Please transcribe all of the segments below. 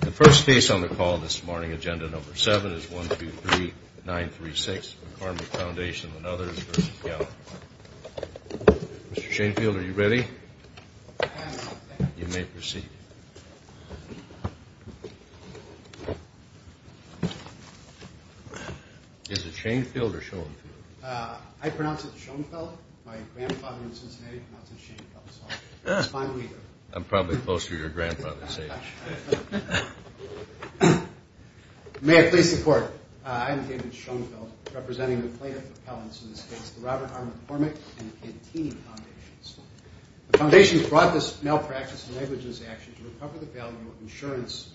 The first case on the call this morning, Agenda No. 7, is 123936 McCormick Foundation v. Gallagher. Mr. Shanefield, are you ready? You may proceed. Is it Shanefield or Schoenfeld? I pronounce it Schoenfeld. My grandfather in Cincinnati pronounced it Shanefeld, so it's finally here. I'm probably closer to your grandfather's age. May I please report? I am David Schoenfeld, representing the plaintiff appellants in this case, the Robert R. McCormick and Cantini Foundations. The foundations brought this malpractice and negligence action to recover the value of insurance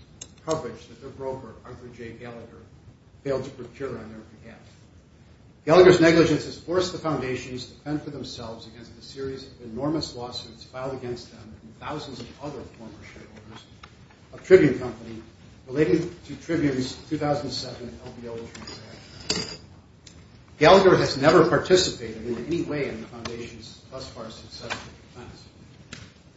coverage that their broker, Arthur J. Gallagher, failed to procure on their behalf. Gallagher's negligence has forced the foundations to fend for themselves against a series of enormous lawsuits filed against them and thousands of other former shareholders of Tribune Company related to Tribune's 2007 LBO transaction. Gallagher has never participated in any way in the foundation's thus far successful defense.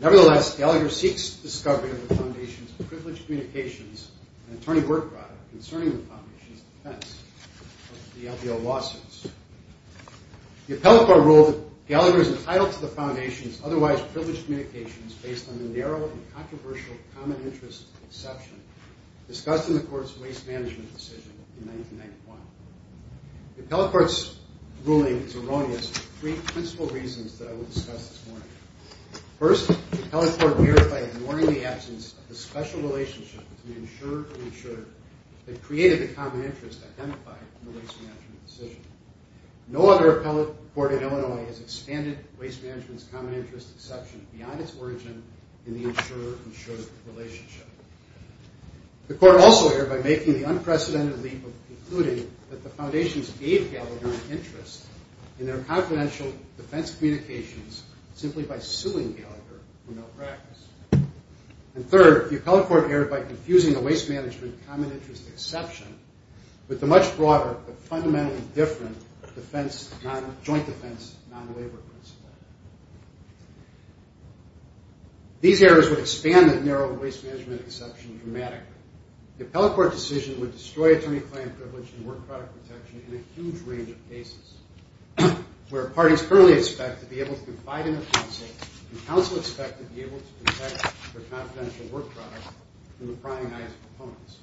Nevertheless, Gallagher seeks discovery of the foundation's privileged communications and attorney work product concerning the foundation's defense of the LBO lawsuits. The appellate court ruled that Gallagher is entitled to the foundation's otherwise privileged communications based on the narrow and controversial common interest exception discussed in the court's waste management decision in 1991. The appellate court's ruling is erroneous for three principal reasons that I will discuss this morning. First, the appellate court verified ignoring the absence of a special relationship between the insurer and insurer that created the common interest identified in the waste management decision. No other appellate court in Illinois has expanded waste management's common interest exception beyond its origin in the insurer-insurer relationship. The court also erred by making the unprecedented leap of concluding that the foundations gave Gallagher an interest in their confidential defense communications simply by suing Gallagher for malpractice. And third, the appellate court erred by confusing the waste management common interest exception with the much broader but fundamentally different joint defense non-labor principle. These errors would expand the narrow waste management exception dramatically. The appellate court decision would destroy attorney-client privilege and work product protection in a huge range of cases where parties currently expect to be able to confide in the counsel and counsel expect to be able to protect their confidential work product from the prying eyes of opponents.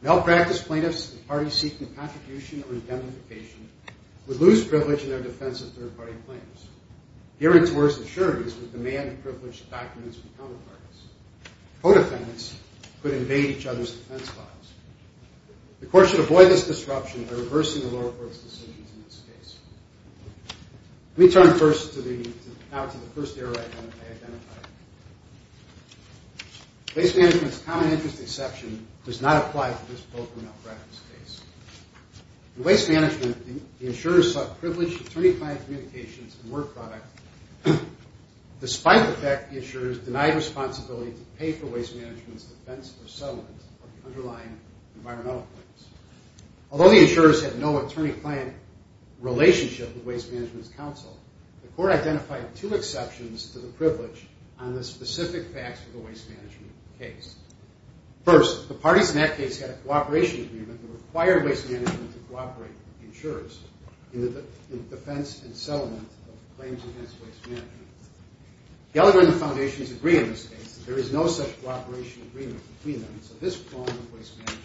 Malpractice plaintiffs and parties seeking contribution or indemnification would lose privilege in their defense of third-party claims. Hearings-worth assurances would demand privileged documents from counterparties. Co-defendants could invade each other's defense files. The court should avoid this disruption by reversing the lower court's decisions in this case. Let me turn now to the first error I identified. Waste management's common interest exception does not apply to this poker malpractice case. In waste management, the insurers sought privileged attorney-client communications and work product despite the fact the insurers denied responsibility to pay for waste management's defense or settlement of the underlying environmental claims. Although the insurers had no attorney-client relationship with waste management's counsel, the court identified two exceptions to the privilege on the specific facts of the waste management case. First, the parties in that case had a cooperation agreement that required waste management to cooperate with the insurers in the defense and settlement of claims against waste management. Gallagher and the foundations agree on this case that there is no such cooperation agreement between them, so this form of waste management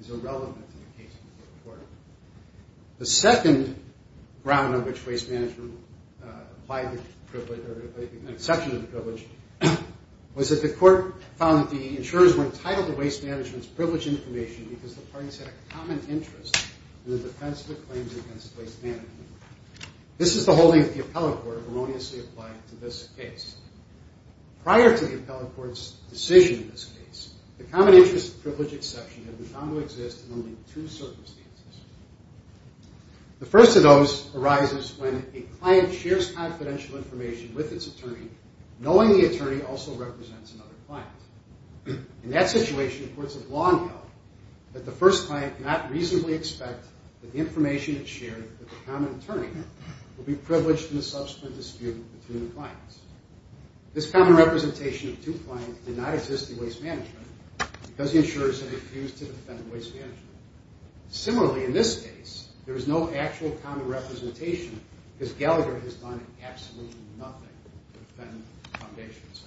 is irrelevant in the case of the court. The second ground on which waste management applied the privilege or an exception to the privilege was that the court found that the insurers were entitled to waste management's privileged information because the parties had a common interest in the defense of the claims against waste management. This is the holding that the appellate court erroneously applied to this case. Prior to the appellate court's decision in this case, the common interest and privilege exception had been found to exist in only two circumstances. The first of those arises when a client shares confidential information with its attorney knowing the attorney also represents another client. In that situation, the courts have long held that the first client cannot reasonably expect that the information that's shared with the common attorney will be privileged in the subsequent dispute between the clients. This common representation of two clients did not exist in waste management because the insurers had refused to defend waste management. Similarly, in this case, there is no actual common representation because Gallagher has done absolutely nothing to defend the foundations.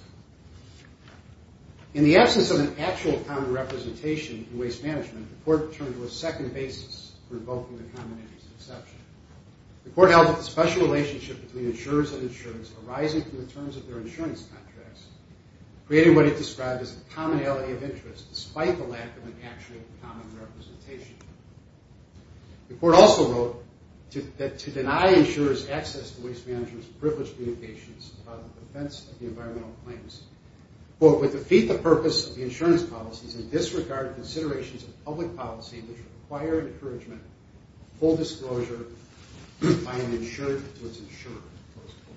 In the absence of an actual common representation in waste management, the court turned to a second basis for invoking the common interest exception. The court held that the special relationship between insurers and insurance arising from the terms of their insurance contracts created what it described as a commonality of interest despite the lack of an actual common representation. The court also wrote that to deny insurers access to waste management's privileged communications about the defense of the environmental claims, quote, would defeat the purpose of the insurance policies and disregard considerations of public policy which require encouragement of full disclosure by an insured to its insurer, close quote.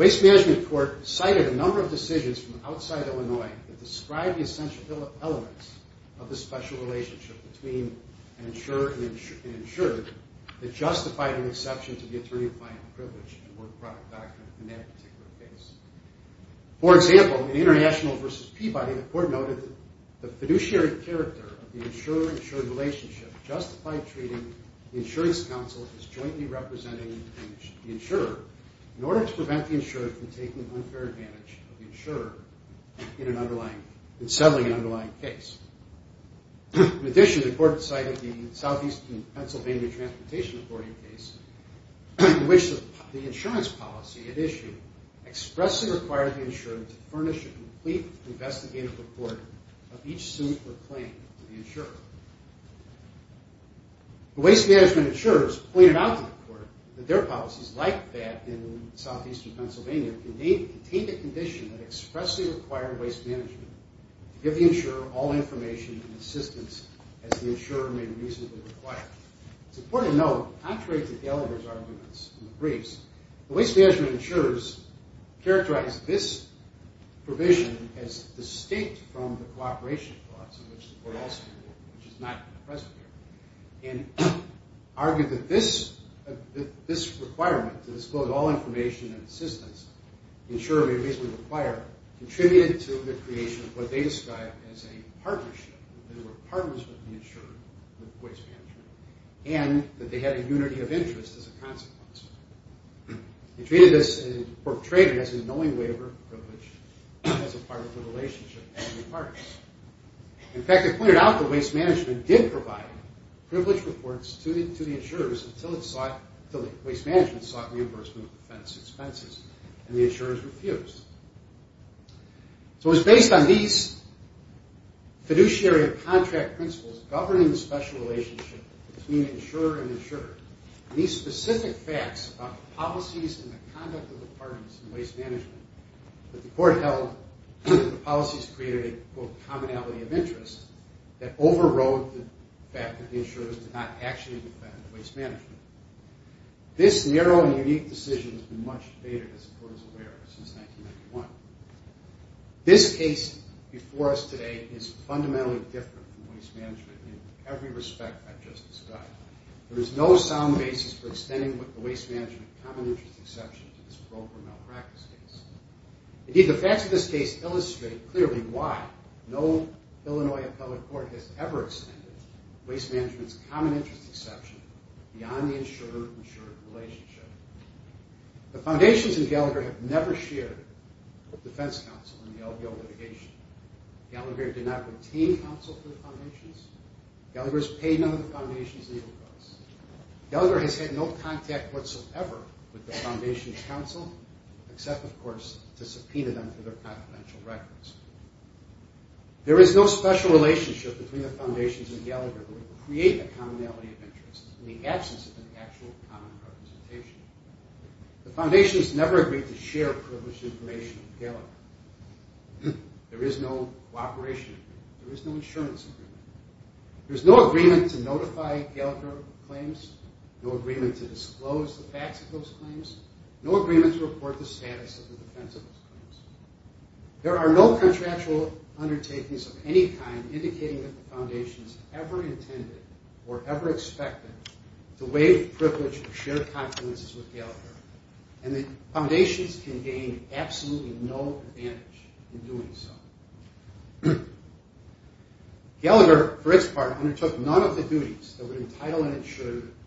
Waste management court cited a number of decisions from outside Illinois that described the essential elements of the special relationship between an insurer and an insured that justified an exception to the attorney-client privilege and work product doctrine in that particular case. For example, in the International versus Peabody, the court noted that the fiduciary character of the insurer-insured relationship justified treating the insurance counsel as jointly representing the insurer in order to prevent the insurer from taking unfair advantage of the insurer in settling an underlying case. In addition, the court cited the Southeastern Pennsylvania Transportation Authority case in which the insurance policy it issued expressly required the insurer to furnish a complete investigative report of each suit or claim to the insurer. The waste management insurers pointed out to the court that their policies, like that in Southeastern Pennsylvania, contained a condition that expressly required waste management to give the insurer all information and assistance as the insurer may reasonably require. It's important to note, contrary to Gallagher's arguments in the briefs, the waste management insurers characterized this provision as distinct from the cooperation clause in which the court also ruled, which is not present here, and argued that this requirement to disclose all information and assistance the insurer may reasonably require contributed to the creation of what they described as a partnership, that there were partners with the insurer, with waste management, and that they had a unity of interest as a consequence. They treated this, and portrayed it as a knowing waiver of privilege as a part of the relationship between parties. In fact, they pointed out that waste management did provide privilege reports to the insurers until the waste management sought reimbursement of defense expenses, and the insurers refused. So it was based on these fiduciary contract principles governing the special relationship between insurer and insurer, and these specific facts about the policies and the conduct of the parties in waste management that the court held the policies created a, quote, commonality of interest that overrode the fact that the insurers did not actually depend on waste management. This narrow and unique decision has been much debated, as the court is aware, since 1991. This case before us today is fundamentally different from waste management in every respect I've just described. There is no sound basis for extending what the waste management common interest exception to this broke or malpractice case. Indeed, the facts of this case illustrate clearly why no Illinois appellate court has ever extended waste management's common interest exception beyond the insurer-insurer relationship. The foundations in Gallagher have never shared defense counsel in the LBO litigation. Gallagher did not retain counsel for the foundations. Gallagher has paid none of the foundations' legal costs. Gallagher has had no contact whatsoever with the foundations' counsel, except, of course, to subpoena them for their confidential records. There is no special relationship between the foundations and Gallagher that would create a commonality of interest in the absence of an actual common representation. The foundations never agreed to share privileged information with Gallagher. There is no cooperation agreement. There is no insurance agreement. There is no agreement to notify Gallagher of claims, no agreement to disclose the facts of those claims, no agreement to report the status of the defense of those claims. There are no contractual undertakings of any kind indicating that the foundations ever intended or ever expected to waive privilege of shared confidences with Gallagher, and the foundations can gain absolutely no advantage in doing so. Gallagher, for its part, undertook none of the duties that would entitle an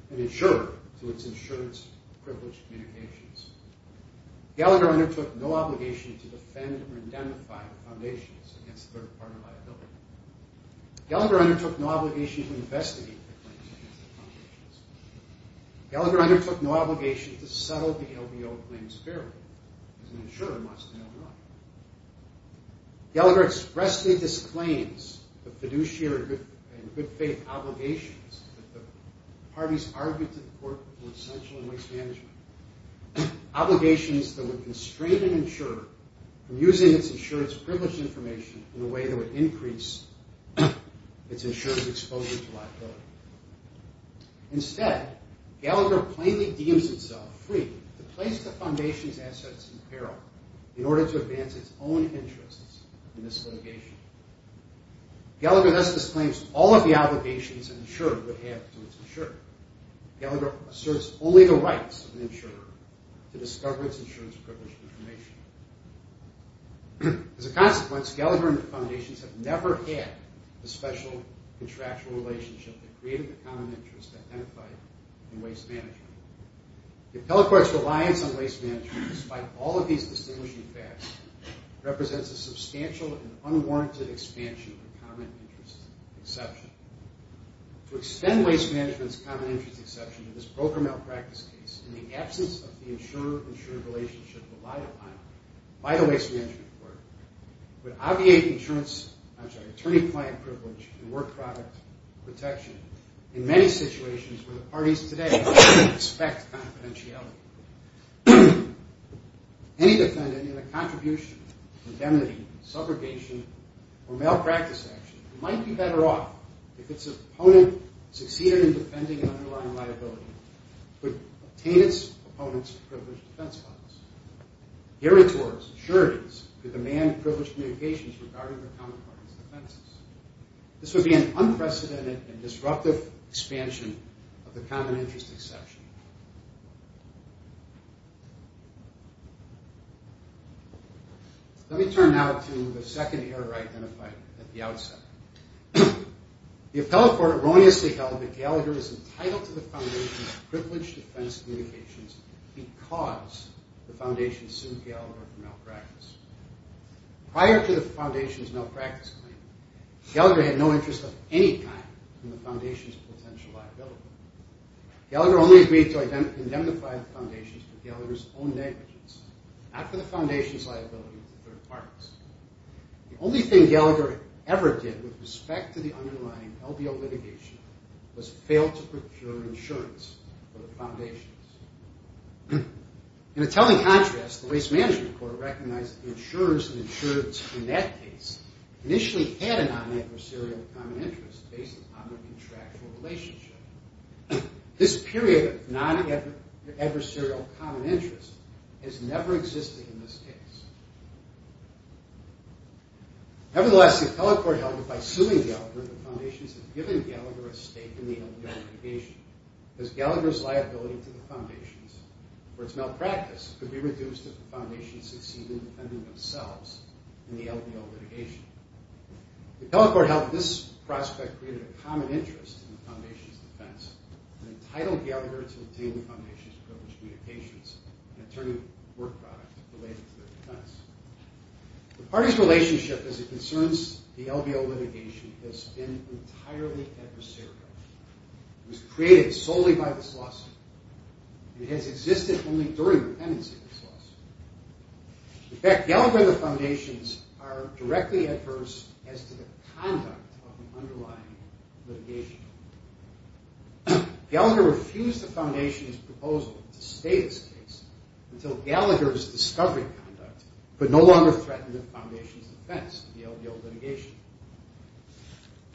insurer to its insurance-privileged communications. Gallagher undertook no obligation to defend or indemnify the foundations against third-party liability. Gallagher undertook no obligation to investigate the claims against the foundations. Gallagher undertook no obligation to settle the LBO claims fairly, because an insurer wants to know more. Gallagher expressly disclaims the fiduciary and good-faith obligations that the parties argued to the court were essential in waste management, obligations that would constrain an insurer from using its insurance-privileged information in a way that would increase its insurance exposure to liability. Instead, Gallagher plainly deems itself free to place the foundation's assets in peril in order to advance its own interests in this litigation. Gallagher thus disclaims all of the obligations an insurer would have to its insurer. Gallagher asserts only the rights of an insurer to discover its insurance-privileged information. As a consequence, Gallagher and the foundations have never had a special contractual relationship that created the common interest identified in waste management. The appellate court's reliance on waste management, despite all of these distinguishing facts, represents a substantial and unwarranted expansion of the common interest exception. To extend waste management's common interest exception to this broker malpractice case, in the absence of the insurer-insurer relationship relied upon by the waste management court, would obviate attorney-client privilege and work product protection in many situations where the parties today expect confidentiality. Any defendant in a contribution, indemnity, subrogation, or malpractice action might be better off if its opponent succeeded in defending an underlying liability to obtain its opponent's privileged defense funds. Herein towards insurities could demand privileged communications regarding the common party's defenses. This would be an unprecedented and disruptive expansion of the common interest exception. Let me turn now to the second error identified at the outset. The appellate court erroneously held that Gallagher was entitled to the foundation's privileged defense communications because the foundation sued Gallagher for malpractice. Prior to the foundation's malpractice claim, Gallagher had no interest of any kind in the foundation's potential liability. Gallagher only agreed to indemnify the foundation for Gallagher's own negligence, not for the foundation's liability to third parties. The only thing Gallagher ever did with respect to the underlying LBO litigation was fail to procure insurance for the foundation. In a telling contrast, the waste management court recognized that the insurers and insurers in that case initially had a non-adversarial common interest based upon their contractual relationship. This period of non-adversarial common interest has never existed in this case. Nevertheless, the appellate court held that by suing Gallagher, the foundation has given Gallagher a stake in the LBO litigation because Gallagher's liability to the foundation for its malpractice could be reduced if the foundation succeeded in defending themselves in the LBO litigation. The appellate court held that this prospect created a common interest in the foundation's defense and entitled Gallagher to obtain the foundation's privileged communications and attorney work product related to their defense. The party's relationship as it concerns the LBO litigation has been entirely adversarial. It was created solely by this lawsuit. It has existed only during the pendency of this lawsuit. In fact, Gallagher and the foundations are directly adverse as to the conduct of the underlying litigation. Gallagher refused the foundation's proposal to stay this case until Gallagher's discovery conduct could no longer threaten the foundation's defense in the LBO litigation.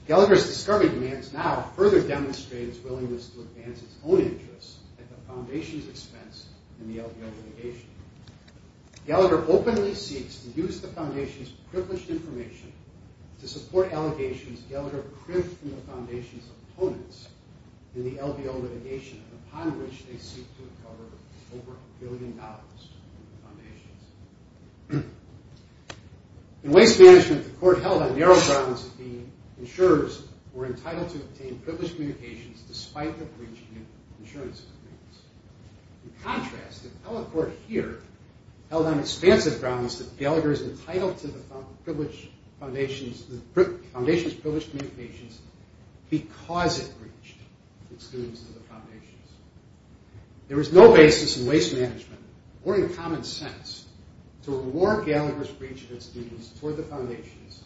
Gallagher's discovery demands now further demonstrate his willingness to advance his own interests at the foundation's expense in the LBO litigation. Gallagher openly seeks to use the foundation's privileged information to support allegations Gallagher cribbed from the foundation's opponents in the LBO litigation, upon which they seek to recover over a billion dollars from the foundation. In waste management, the court held on narrow grounds that the insurers were entitled to obtain privileged communications despite the breach in the insurance agreements. In contrast, the appellate court here held on expansive grounds that Gallagher is entitled to the foundation's privileged communications because it breached the students of the foundations. There is no basis in waste management or in common sense to reward Gallagher's breach of his duties toward the foundations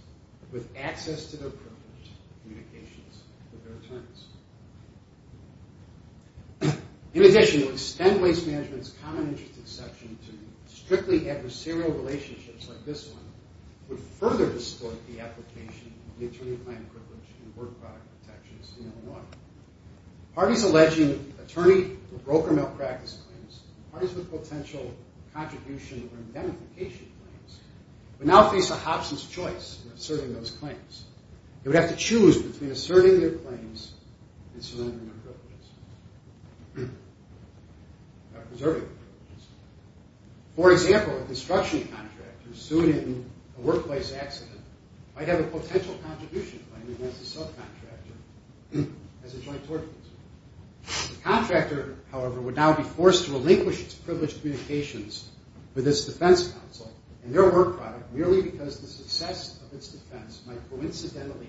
with access to their privileged communications with their attorneys. In addition, to extend waste management's common interest exception to strictly adversarial relationships like this one would further distort the application of the attorney-claimed privilege and work product protections in Illinois. Parties alleging attorney or broker malpractice claims, parties with potential contribution or indemnification claims, would now face a Hobson's choice in asserting those claims. They would have to choose between asserting their claims and surrendering their privileges or preserving their privileges. For example, a construction contractor sued in a workplace accident might have a potential contribution claim against a subcontractor as a joint torturer. The contractor, however, would now be forced to relinquish its privileged communications with its defense counsel and their work product merely because the success of its defense might coincidentally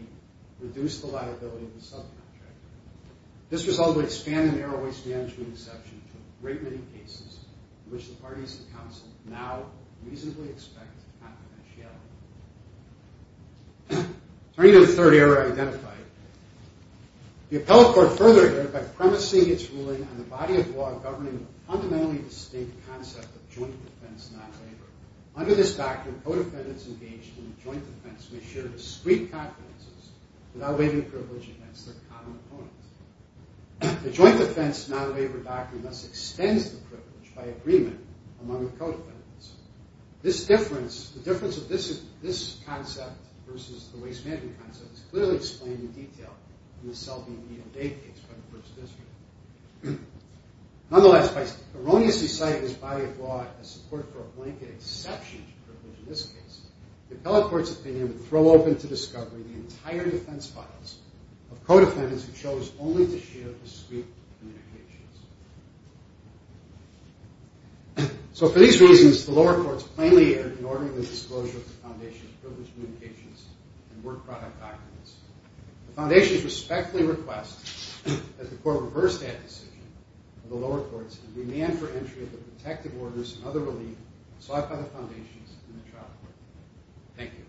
reduce the liability of the subcontractor. This result would expand the narrow waste management exception to a great many cases in which the parties of counsel now reasonably expect confidentiality. Attorney to the Third Era identified. The appellate court further identified by premising its ruling on the body of law governing a fundamentally distinct concept of joint defense, not labor. Under this doctrine, co-defendants engaged in joint defense may share discreet confidences without waiving privilege against their common opponents. The joint defense non-labor doctrine thus extends the privilege by agreement among the co-defendants. This difference, the difference of this concept versus the waste management concept is clearly explained in detail in the Selby and Neal Day case by the First District. Nonetheless, by erroneously citing this body of law as support for a blanket exception to privilege in this case, the appellate court's opinion would throw open to discovery the entire defense files of co-defendants who chose only to share discreet communications. So for these reasons, the lower courts plainly erred in ordering the disclosure of the foundation's privilege communications and work product documents. The foundation respectfully requests that the court reverse that decision of the lower courts and demand for entry of the protective orders and other relief sought by the foundations in the trial court. Thank you.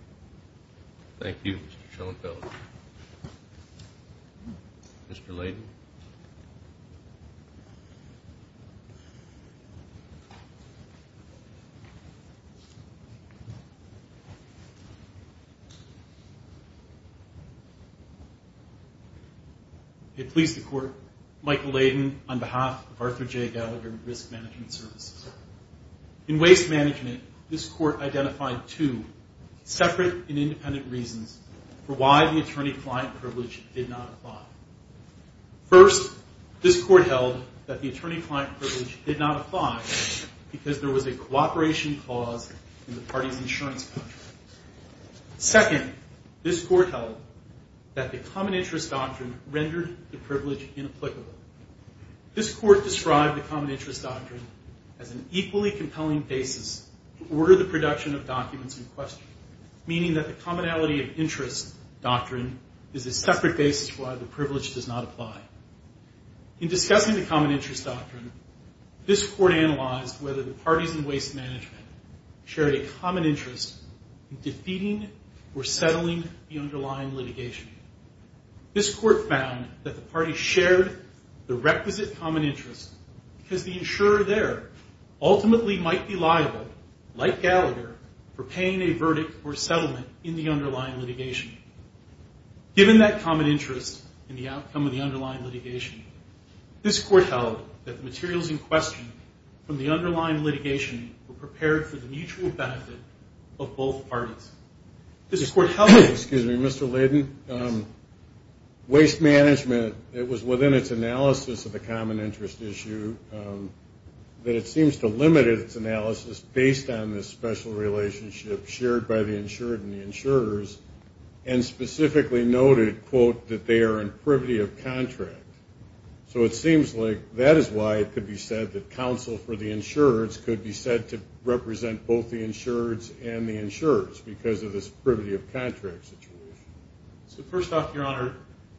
Thank you, Mr. Schoenfeld. Mr. Layden. It please the court, Michael Layden, on behalf of Arthur J. Gallagher Risk Management Services. In waste management, this court identified two separate and independent reasons for why the attorney-client privilege did not apply. First, this court held that the attorney-client privilege did not apply because there was a cooperation clause in the party's insurance contract. Second, this court held that the common interest doctrine rendered the privilege inapplicable. This court described the common interest doctrine as an equally compelling basis to order the production of documents in question, meaning that the commonality of interest doctrine is a separate basis for why the privilege does not apply. In discussing the common interest doctrine, this court analyzed whether the parties in waste management shared a common interest in defeating or settling the underlying litigation. This court found that the parties shared the requisite common interest because the insurer there ultimately might be liable, like Gallagher, for paying a verdict or settlement in the underlying litigation. Given that common interest in the outcome of the underlying litigation, this court held that the materials in question from the underlying litigation were prepared for the mutual benefit of both parties. Excuse me, Mr. Layden. Waste management, it was within its analysis of the common interest issue that it seems to limit its analysis based on this special relationship shared by the insured and the insurers, and specifically noted, quote, that they are in privity of contract. So it seems like that is why it could be said that counsel for the insurers could be said to represent both the insurers and the insurers because of this privity of contract situation. So first off, Your Honor,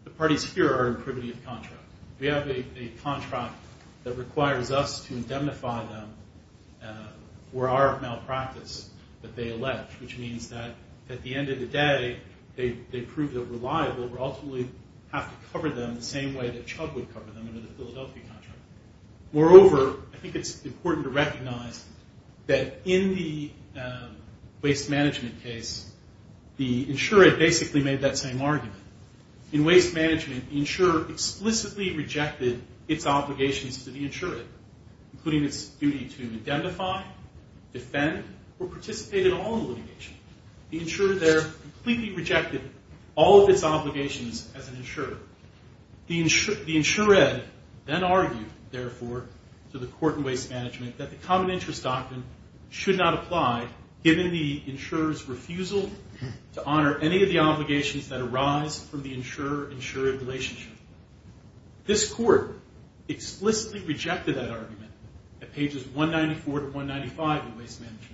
the parties here are in privity of contract. We have a contract that requires us to indemnify them for our malpractice that they allege, which means that at the end of the day, they prove that we're liable. We ultimately have to cover them the same way that Chubb would cover them under the Philadelphia contract. Moreover, I think it's important to recognize that in the waste management case, the insurer basically made that same argument. In waste management, the insurer explicitly rejected its obligations to the insurer, including its duty to indemnify, defend, or participate in all the litigation. The insurer there completely rejected all of its obligations as an insurer. The insured then argued, therefore, to the court in waste management that the common interest doctrine should not apply given the insurer's refusal to honor any of the obligations that arise from the insurer-insurer relationship. This court explicitly rejected that argument at pages 194 to 195 in waste management.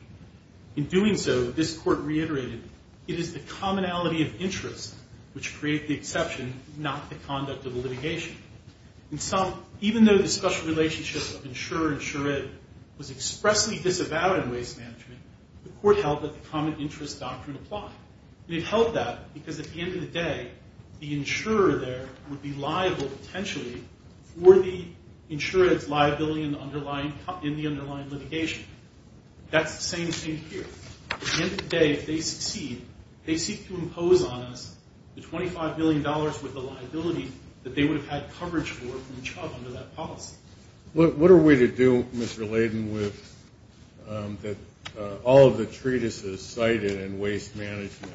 In doing so, this court reiterated, it is the commonality of interest which create the exception, not the conduct of the litigation. In sum, even though the special relationship of insurer-insured was expressly disavowed in waste management, the court held that the common interest doctrine applied. It held that because at the end of the day, the insurer there would be liable potentially for the insured's liability in the underlying litigation. That's the same thing here. At the end of the day, if they succeed, they seek to impose on us the $25 million worth of liability that they would have had coverage for from the chub under that policy. What are we to do, Mr. Layden, with all of the treatises cited in waste management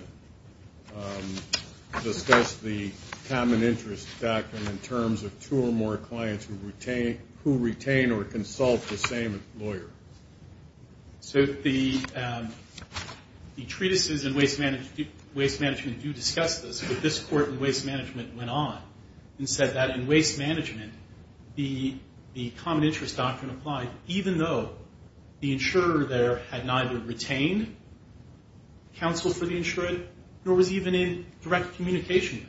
discuss the common interest doctrine in terms of two or more clients who retain or consult the same lawyer? The treatises in waste management do discuss this, but this court in waste management went on and said that in waste management, the common interest doctrine applied even though the insurer there had neither retained counsel for the insured nor was even in direct communication with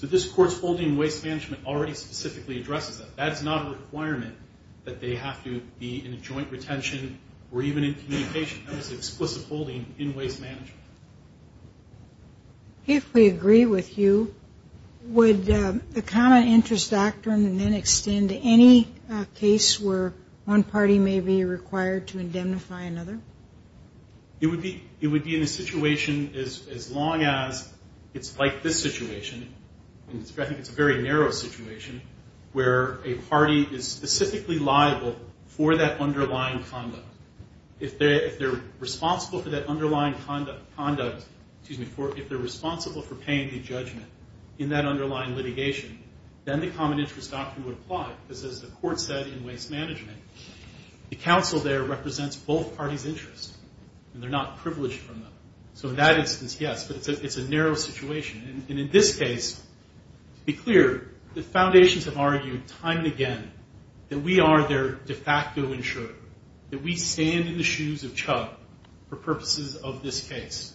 them. This court's holding in waste management already specifically addresses that. That's not a requirement that they have to be in a joint retention or even in communication. That was an explicit holding in waste management. If we agree with you, would the common interest doctrine then extend to any case where one party may be required to indemnify another? It would be in a situation as long as it's like this situation, and I think it's a very narrow situation, where a party is specifically liable for that underlying conduct. If they're responsible for that underlying conduct, if they're responsible for paying the judgment in that underlying litigation, then the common interest doctrine would apply because as the court said in waste management, the counsel there represents both parties' interests and they're not privileged from them. So in that instance, yes, but it's a narrow situation. In this case, to be clear, the foundations have argued time and again that we are their de facto insurer, that we stand in the shoes of Chubb for purposes of this case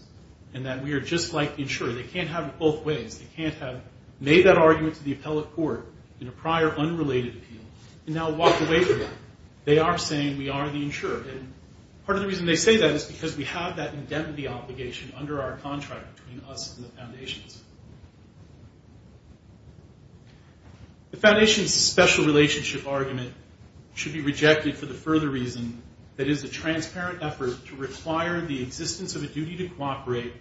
and that we are just like the insurer. They can't have it both ways. They can't have made that argument to the appellate court in a prior unrelated appeal and now walked away from it. They are saying we are the insurer. Part of the reason they say that is because we have that indemnity obligation under our contract between us and the foundations. The foundations' special relationship argument should be rejected for the further reason that it is a transparent effort to require the existence of a duty to cooperate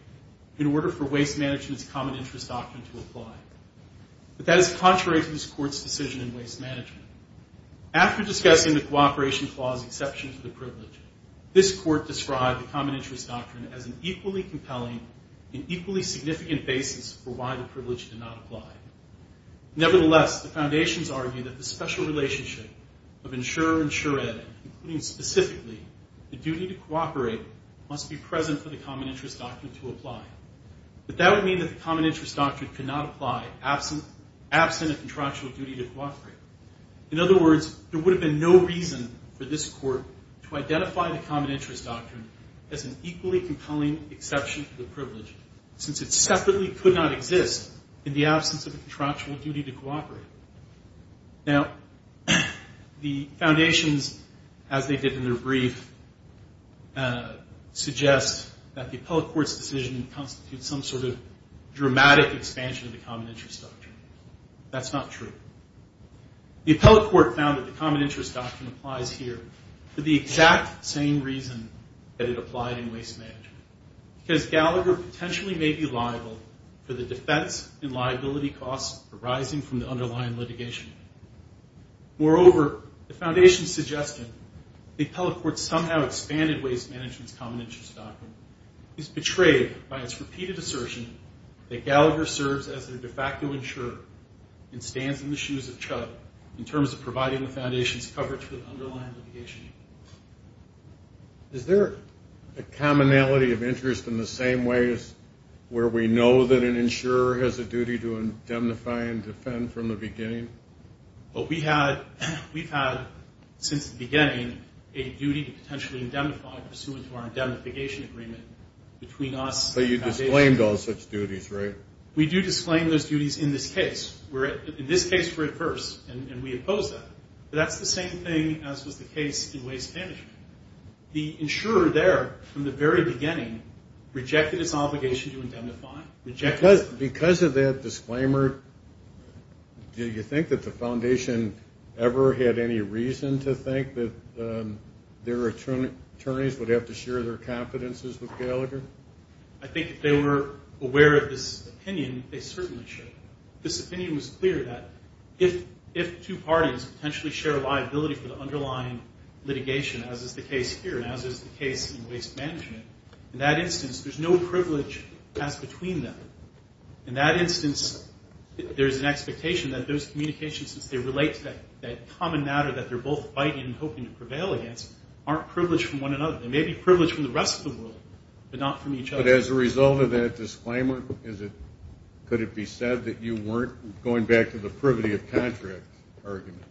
in order for waste management's common interest doctrine to apply. But that is contrary to this court's decision in waste management. After discussing the cooperation clause exception to the privilege, this court described the common interest doctrine as an equally compelling and equally significant basis for why the privilege did not apply. Nevertheless, the foundations argue that the special relationship of insurer and sure ed, including specifically the duty to cooperate, must be present for the common interest doctrine to apply. But that would mean that the common interest doctrine could not apply absent a contractual duty to cooperate. In other words, there would have been no reason for this court to identify the common interest doctrine as an equally compelling exception to the privilege, since it separately could not exist in the absence of a contractual duty to cooperate. Now, the foundations, as they did in their brief, suggest that the appellate court's decision constitutes some sort of dramatic expansion of the common interest doctrine. That's not true. The appellate court found that the common interest doctrine applies here for the exact same reason that it applied in waste management, because Gallagher potentially may be liable for the defense and liability costs arising from the underlying litigation. Moreover, the foundation's suggestion that the appellate court somehow expanded waste management's common interest doctrine is betrayed by its repeated assertion that Gallagher serves as their de facto insurer and stands in the shoes of Chud in terms of providing the foundation's coverage for the underlying litigation. Is there a commonality of interest in the same way as where we know that an insurer has a duty to indemnify and defend from the beginning? Well, we've had, since the beginning, a duty to potentially indemnify pursuant to our indemnification agreement between us and the foundation. But you disclaimed all such duties, right? We do disclaim those duties in this case. In this case, we're at first, and we oppose that. But that's the same thing as was the case in waste management. The insurer there, from the very beginning, rejected its obligation to indemnify. Because of that disclaimer, do you think that the foundation ever had any reason to think that their attorneys would have to share their confidences with Gallagher? I think if they were aware of this opinion, they certainly should. This opinion was clear that if two parties potentially share a liability for the underlying litigation, as is the case here, and as is the case in waste management, in that instance, there's no privilege as between them. In that instance, there's an expectation that those communications, since they relate to that common matter that they're both fighting and hoping to prevail against, aren't privileged from one another. They may be privileged from the rest of the world, but not from each other. But as a result of that disclaimer, could it be said that you weren't going back to the privity of contract argument?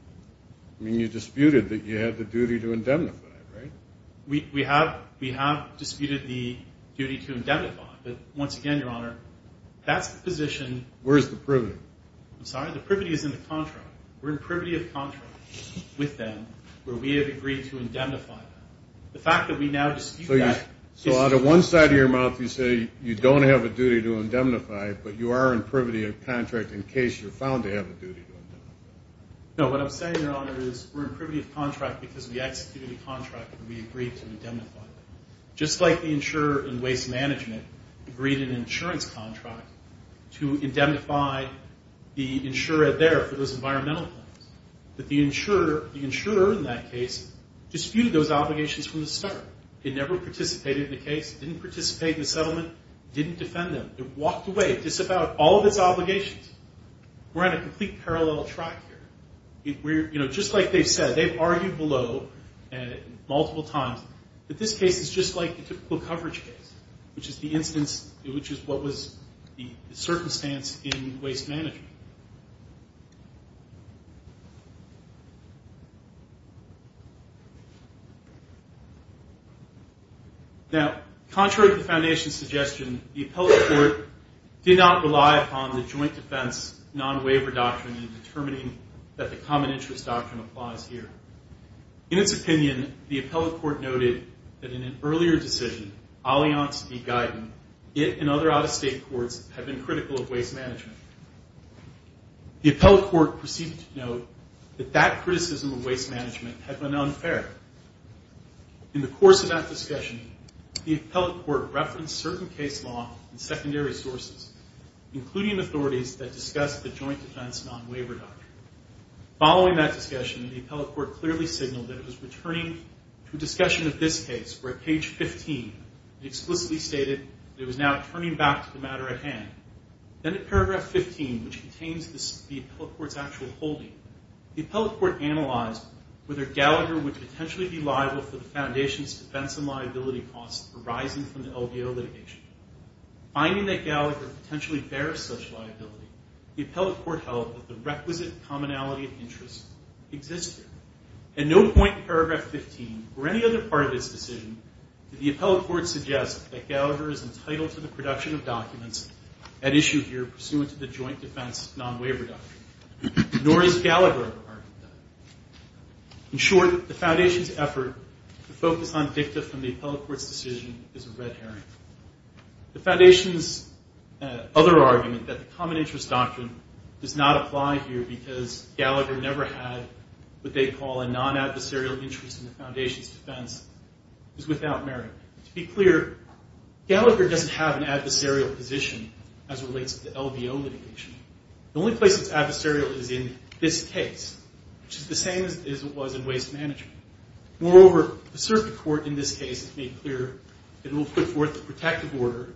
I mean, you disputed that you had the duty to indemnify, right? We have disputed the duty to indemnify. But once again, Your Honor, that's the position. Where's the privity? I'm sorry? The privity is in the contract. We're in privity of contract with them, where we have agreed to indemnify them. The fact that we now dispute that is true. So out of one side of your mouth, you say you don't have a duty to indemnify, but you are in privity of contract in case you're found to have a duty to indemnify. No, what I'm saying, Your Honor, is we're in privity of contract because we executed a contract and we agreed to indemnify. Just like the insurer in waste management agreed an insurance contract to indemnify the insurer there for those environmental claims, that the insurer in that case disputed those obligations from the start. It never participated in the case. It didn't participate in the settlement. It didn't defend them. It walked away. It disavowed all of its obligations. We're on a complete parallel track here. Just like they've said, they've argued below multiple times that this case is just like the typical coverage case, which is what was the circumstance in waste management. Now, contrary to the Foundation's suggestion, the appellate court did not rely upon the joint defense non-waiver doctrine in determining that the common interest doctrine applies here. In its opinion, the appellate court noted that in an earlier decision, Allianz v. Guyton, it and other out-of-state courts had been critical of waste management. The appellate court proceeded to note that that criticism of waste management had been unfair. In the course of that discussion, the appellate court referenced certain case law and secondary sources, including authorities that discussed the joint defense non-waiver doctrine. Following that discussion, the appellate court clearly signaled that it was returning to a discussion of this case where at page 15 it explicitly stated that it was now turning back to the matter at hand. Then at paragraph 15, which contains the appellate court's actual holding, the appellate court analyzed whether Gallagher would potentially be liable for the Foundation's defense and liability costs arising from the LDO litigation. Finding that Gallagher potentially bears such liability, the appellate court held that the requisite commonality of interest exists here. At no point in paragraph 15 or any other part of this decision did the appellate court suggest that Gallagher is entitled to the production of documents at issue here pursuant to the joint defense non-waiver doctrine, nor is Gallagher a part of that. In short, the Foundation's effort to focus on dicta from the appellate court's decision is a red herring. The Foundation's other argument that the common interest doctrine does not apply here because Gallagher never had what they call a non-adversarial interest in the Foundation's defense is without merit. To be clear, Gallagher doesn't have an adversarial position as relates to the LDO litigation. The only place it's adversarial is in this case, which is the same as it was in waste management. Moreover, the circuit court in this case has made clear that it will put forth a protective order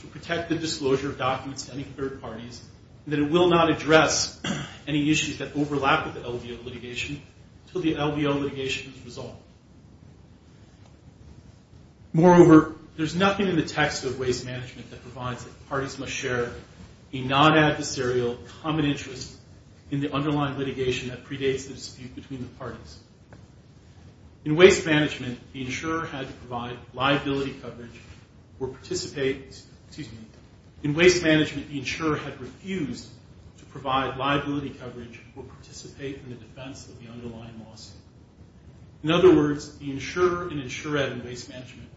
to protect the disclosure of documents to any third parties and that it will not address any issues that overlap with the LDO litigation until the LDO litigation is resolved. Moreover, there's nothing in the text of waste management that provides that parties must share a non-adversarial common interest in the underlying litigation that predates the dispute between the parties. In waste management, the insurer had to provide liability coverage or participate, excuse me. In waste management, the insurer had refused to provide liability coverage or participate in the defense of the underlying lawsuit. In other words, the insurer and insured in waste management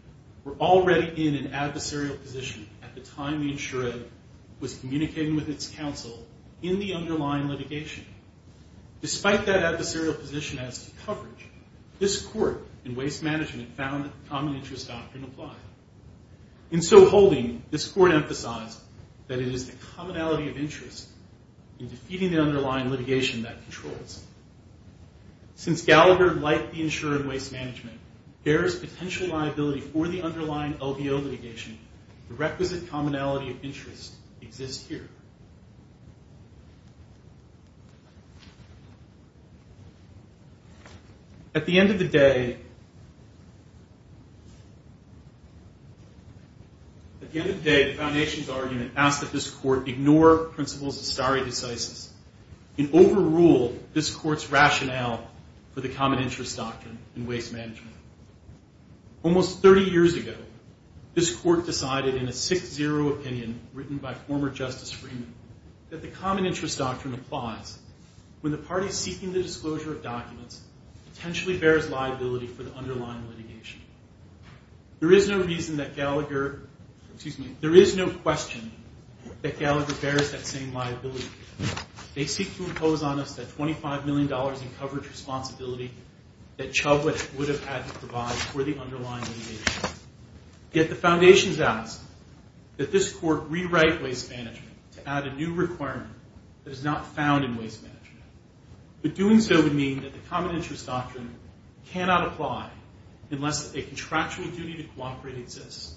were already in an adversarial position at the time the insured was communicating with its counsel in the underlying litigation. Despite that adversarial position as to coverage, this court in waste management found that the common interest doctrine applied. In so holding, this court emphasized that it is the commonality of interest in defeating the underlying litigation that controls. Since Gallagher, like the insured in waste management, bears potential liability for the underlying LDO litigation, the requisite commonality of interest exists here. At the end of the day, the foundation's argument asked that this court ignore principles of stare decisis and overrule this court's rationale for the common interest doctrine in waste management. Almost 30 years ago, this court decided in a 6-0 opinion written by former Justice Freeman that the common interest doctrine applies when the party seeking the disclosure of documents potentially bears liability for the underlying litigation. There is no reason that Gallagher, excuse me, there is no question that Gallagher bears that same liability. They seek to impose on us that $25 million in coverage responsibility that Chublett would have had to provide for the underlying litigation. Yet the foundation's asked that this court rewrite waste management to add a new requirement that is not found in waste management. But doing so would mean that the common interest doctrine cannot apply unless a contractual duty to cooperate exists,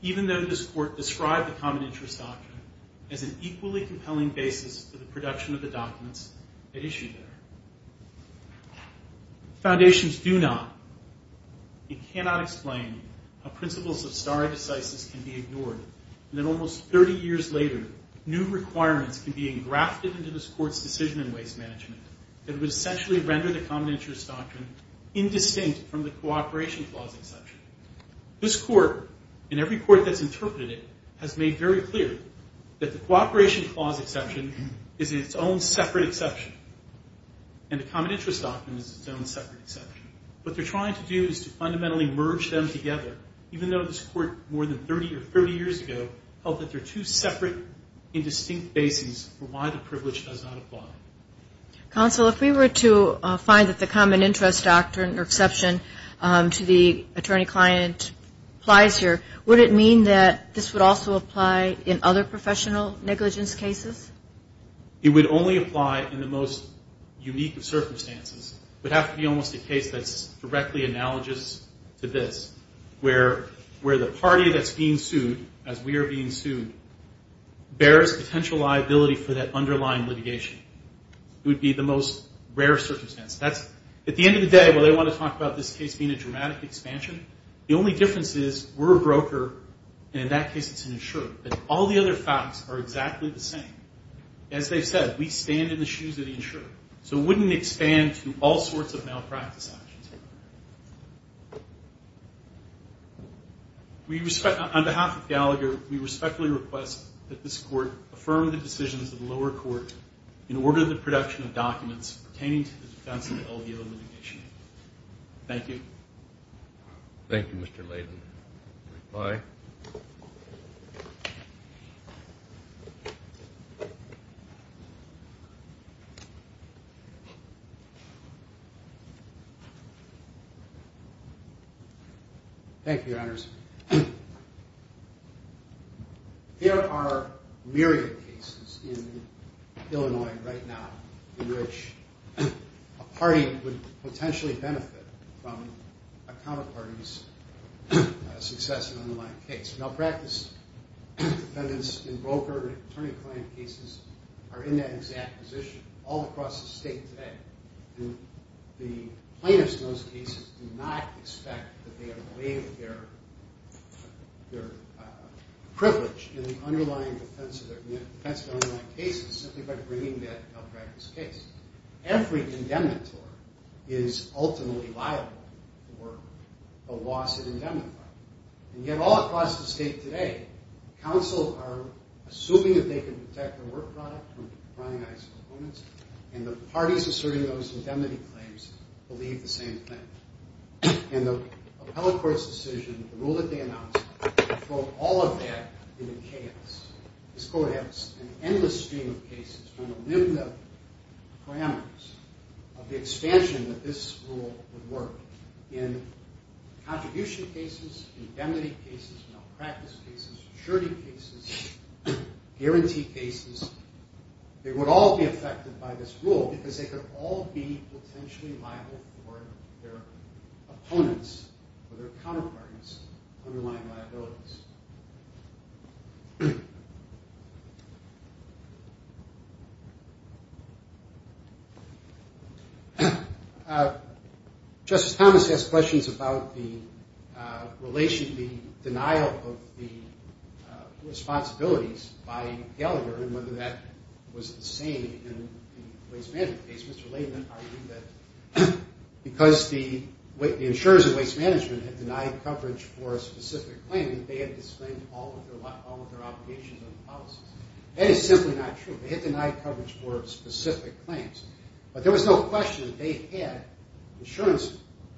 even though this court described the common interest doctrine as an equally compelling basis for the production of the documents that issue there. Foundations do not and cannot explain how principles of stare decisis can be ignored, and that almost 30 years later, new requirements can be engrafted into this court's decision in waste management that would essentially render the common interest doctrine indistinct from the cooperation clause exception. This court, and every court that's interpreted it, has made very clear that the cooperation clause exception is its own separate exception, and the common interest doctrine is its own separate exception. What they're trying to do is to fundamentally merge them together, even though this court more than 30 or 30 years ago held that they're two separate, indistinct bases for why the privilege does not apply. Counsel, if we were to find that the common interest doctrine or exception to the attorney-client applies here, would it mean that this would also apply in other professional negligence cases? It would only apply in the most unique of circumstances. It would have to be almost a case that's directly analogous to this, where the party that's being sued, as we are being sued, bears potential liability for that underlying litigation. It would be the most rare circumstance. At the end of the day, while they want to talk about this case being a dramatic expansion, the only difference is we're a broker, and in that case it's an insurer, but all the other facts are exactly the same. As they've said, we stand in the shoes of the insurer. So it wouldn't expand to all sorts of malpractice actions. On behalf of Gallagher, we respectfully request that this court affirm the decisions of the lower court in order of the production of documents pertaining to the defense of the LDO litigation. Thank you. Thank you, Mr. Layden. Bye. Thank you, Your Honors. There are myriad cases in Illinois right now in which a party would potentially benefit from a counterparty's success in an unaligned case. Malpractice defendants in broker and attorney-client cases are in that exact position all across the state today. And the plaintiffs in those cases do not expect that they are laying their privilege in the underlying defense of an unaligned case simply by bringing that malpractice case. Every indemnitor is ultimately liable for a loss in indemnity. And yet all across the state today, counsels are assuming that they can protect their work product from the prying eyes of opponents, and the parties asserting those indemnity claims believe the same thing. And the appellate court's decision, the rule that they announced, throw all of that into chaos. This court has an endless stream of cases trying to live the parameters of the expansion that this rule would work in contribution cases, indemnity cases, malpractice cases, maturity cases, guarantee cases. They would all be affected by this rule because they could all be potentially liable for their opponents or their counterparts' underlying liabilities. Justice Thomas asked questions about the relation, the denial of the responsibilities by Gallagher and whether that was the same in the waste management case. Mr. Laidman argued that because the insurers of waste management had denied coverage for a specific claim, that they had disclaimed all of their obligations and policies. That is simply not true. They had denied coverage for specific claims. But there was no question that they had insurance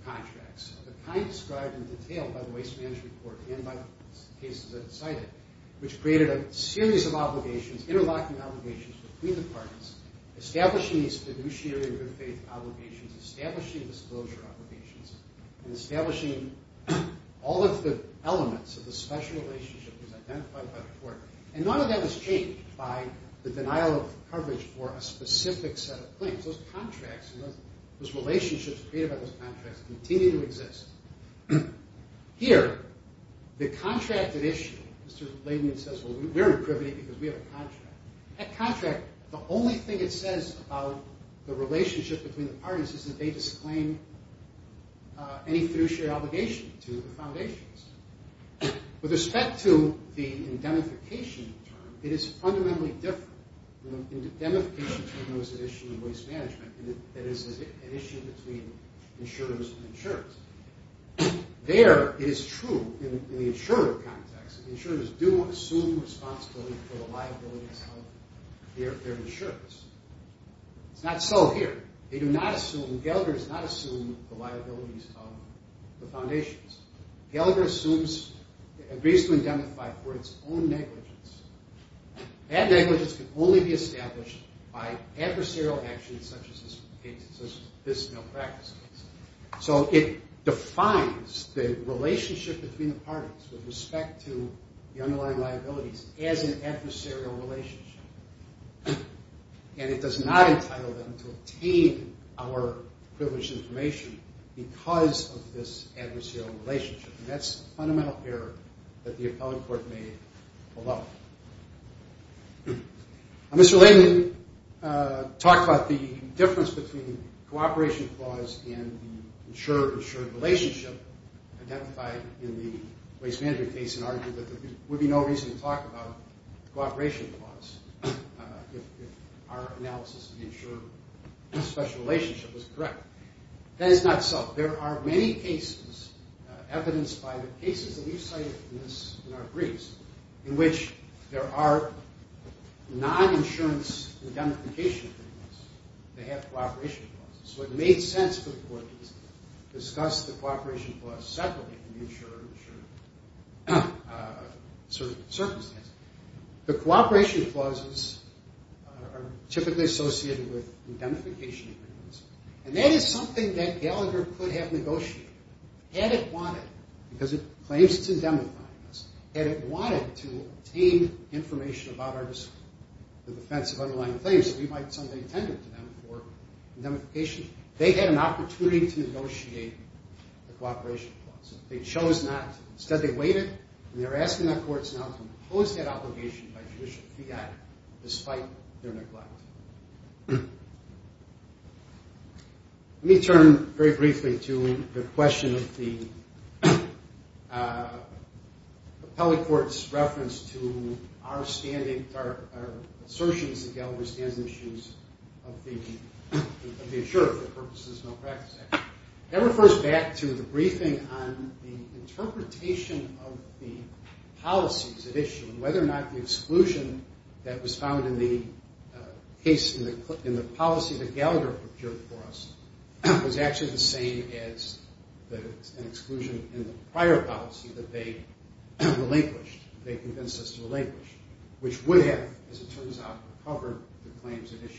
contracts of the kind described in detail by the Waste Management Court and by the cases that it cited, which created a series of obligations, interlocking obligations between the parties, establishing these fiduciary and good faith obligations, establishing disclosure obligations, and establishing all of the elements of the special relationship that was identified by the court. And none of that was changed by the denial of coverage for a specific set of claims. Those contracts and those relationships created by those contracts continue to exist. Here, the contracted issue, Mr. Laidman says, well, we're in privity because we have a contract. That contract, the only thing it says about the relationship between the parties is that they disclaimed any fiduciary obligation to the foundations. With respect to the indemnification term, it is fundamentally different. The indemnification term knows the issue of waste management, and it is an issue between insurers and insurers. There, it is true in the insurer context, insurers do assume responsibility for the liabilities of their insurers. It's not so here. Gallagher does not assume the liabilities of the foundations. Gallagher agrees to indemnify for its own negligence. That negligence can only be established by adversarial actions such as this malpractice case. So it defines the relationship between the parties with respect to the underlying liabilities as an adversarial relationship. And it does not entitle them to obtain our privileged information because of this adversarial relationship. And that's a fundamental error that the appellate court made below. Mr. Layden talked about the difference between the cooperation clause and the insurer-insurer relationship identified in the waste management case and argued that there would be no reason to talk about the cooperation clause if our analysis of the insurer-insurer relationship was correct. That is not so. There are many cases evidenced by the cases that you cited in our briefs in which there are non-insurance indemnification agreements that have cooperation clauses. So it made sense for the court to discuss the cooperation clause separately in the insurer-insurer circumstance. The cooperation clauses are typically associated with indemnification agreements and that is something that Gallagher could have negotiated had it wanted because it claims to indemnify us had it wanted to obtain information about the defense of underlying claims that we might have tended to them for indemnification. They had an opportunity to negotiate the cooperation clause. Instead they waited and they are asking the courts now to impose that obligation by judicial fiat despite their neglect. Let me turn very briefly to the question of the appellate court's reference to our assertions that Gallagher stands on the shoes of the insurer for purposes of this malpractice act. That refers back to the briefing on the interpretation of the policies at issue and whether or not the exclusion that was found in the policy that Gallagher procured for us was actually the same as an exclusion they convinced us to relinquish, which would have, as it turns out, recovered the claims at issue.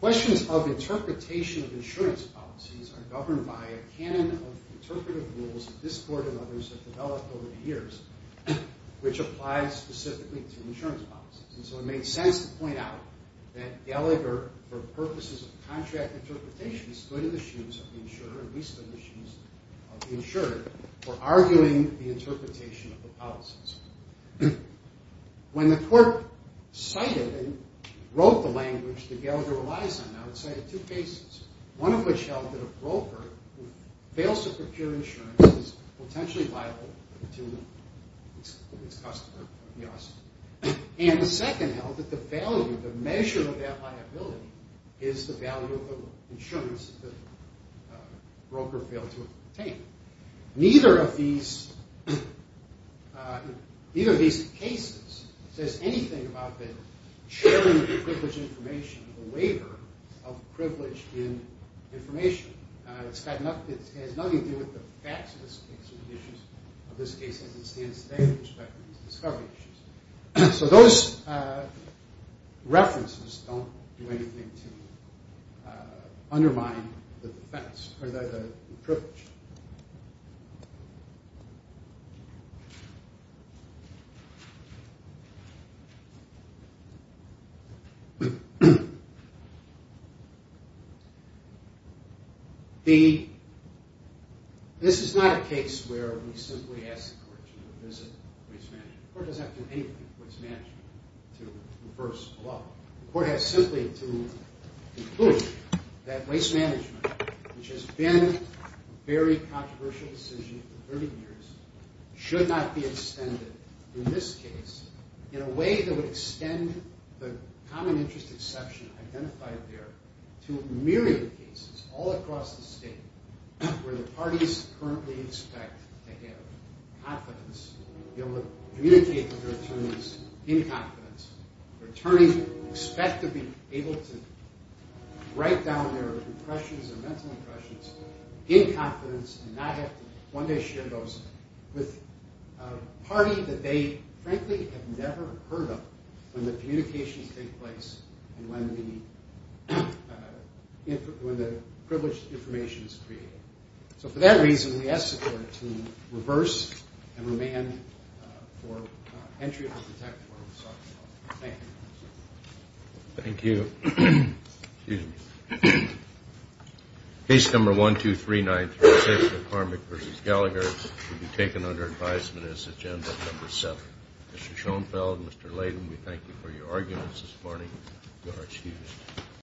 Questions of interpretation of insurance policies are governed by a canon of interpretive rules that this court and others have developed over the years which applies specifically to insurance policies. It made sense to point out that Gallagher for purposes of contract interpretation stood on the shoes of the insurer for arguing the interpretation of the policies. When the court cited and wrote the language that Gallagher relies on it cited two cases. One of which held that a broker who fails to procure insurance is potentially liable to its customer. The second held that the value, the measure of that liability is the value of the insurance that the broker failed to obtain. Neither of these cases says anything about the sharing of privileged information, the waiver of privilege in information. It has nothing to do with the facts of this case or the issues of this case as it stands today Those references don't do anything to undermine the defense or the privilege. This is not a case where we simply ask the court to revisit waste management. The court doesn't have to do anything to reverse the law. The court has simply to conclude that waste management which has been a very controversial decision for 30 years should not be extended in this case in a way that would extend the common interest exception identified there to a myriad of cases all across the state where the parties currently expect to have confidence, be able to communicate with their attorneys in confidence. Their attorneys expect to be able to write down their impressions, their mental impressions in confidence and not have to one day share those with a party that they frankly have never heard of when the communications take place and when the privileged information is created. So for that reason we ask the court to reverse and remand for entry of the protective order. Thank you. Thank you. Case number 1239 should be taken under advisement as agenda number 7. Mr. Schoenfeld, Mr. Layden, we thank you for your arguments this morning. You are excused.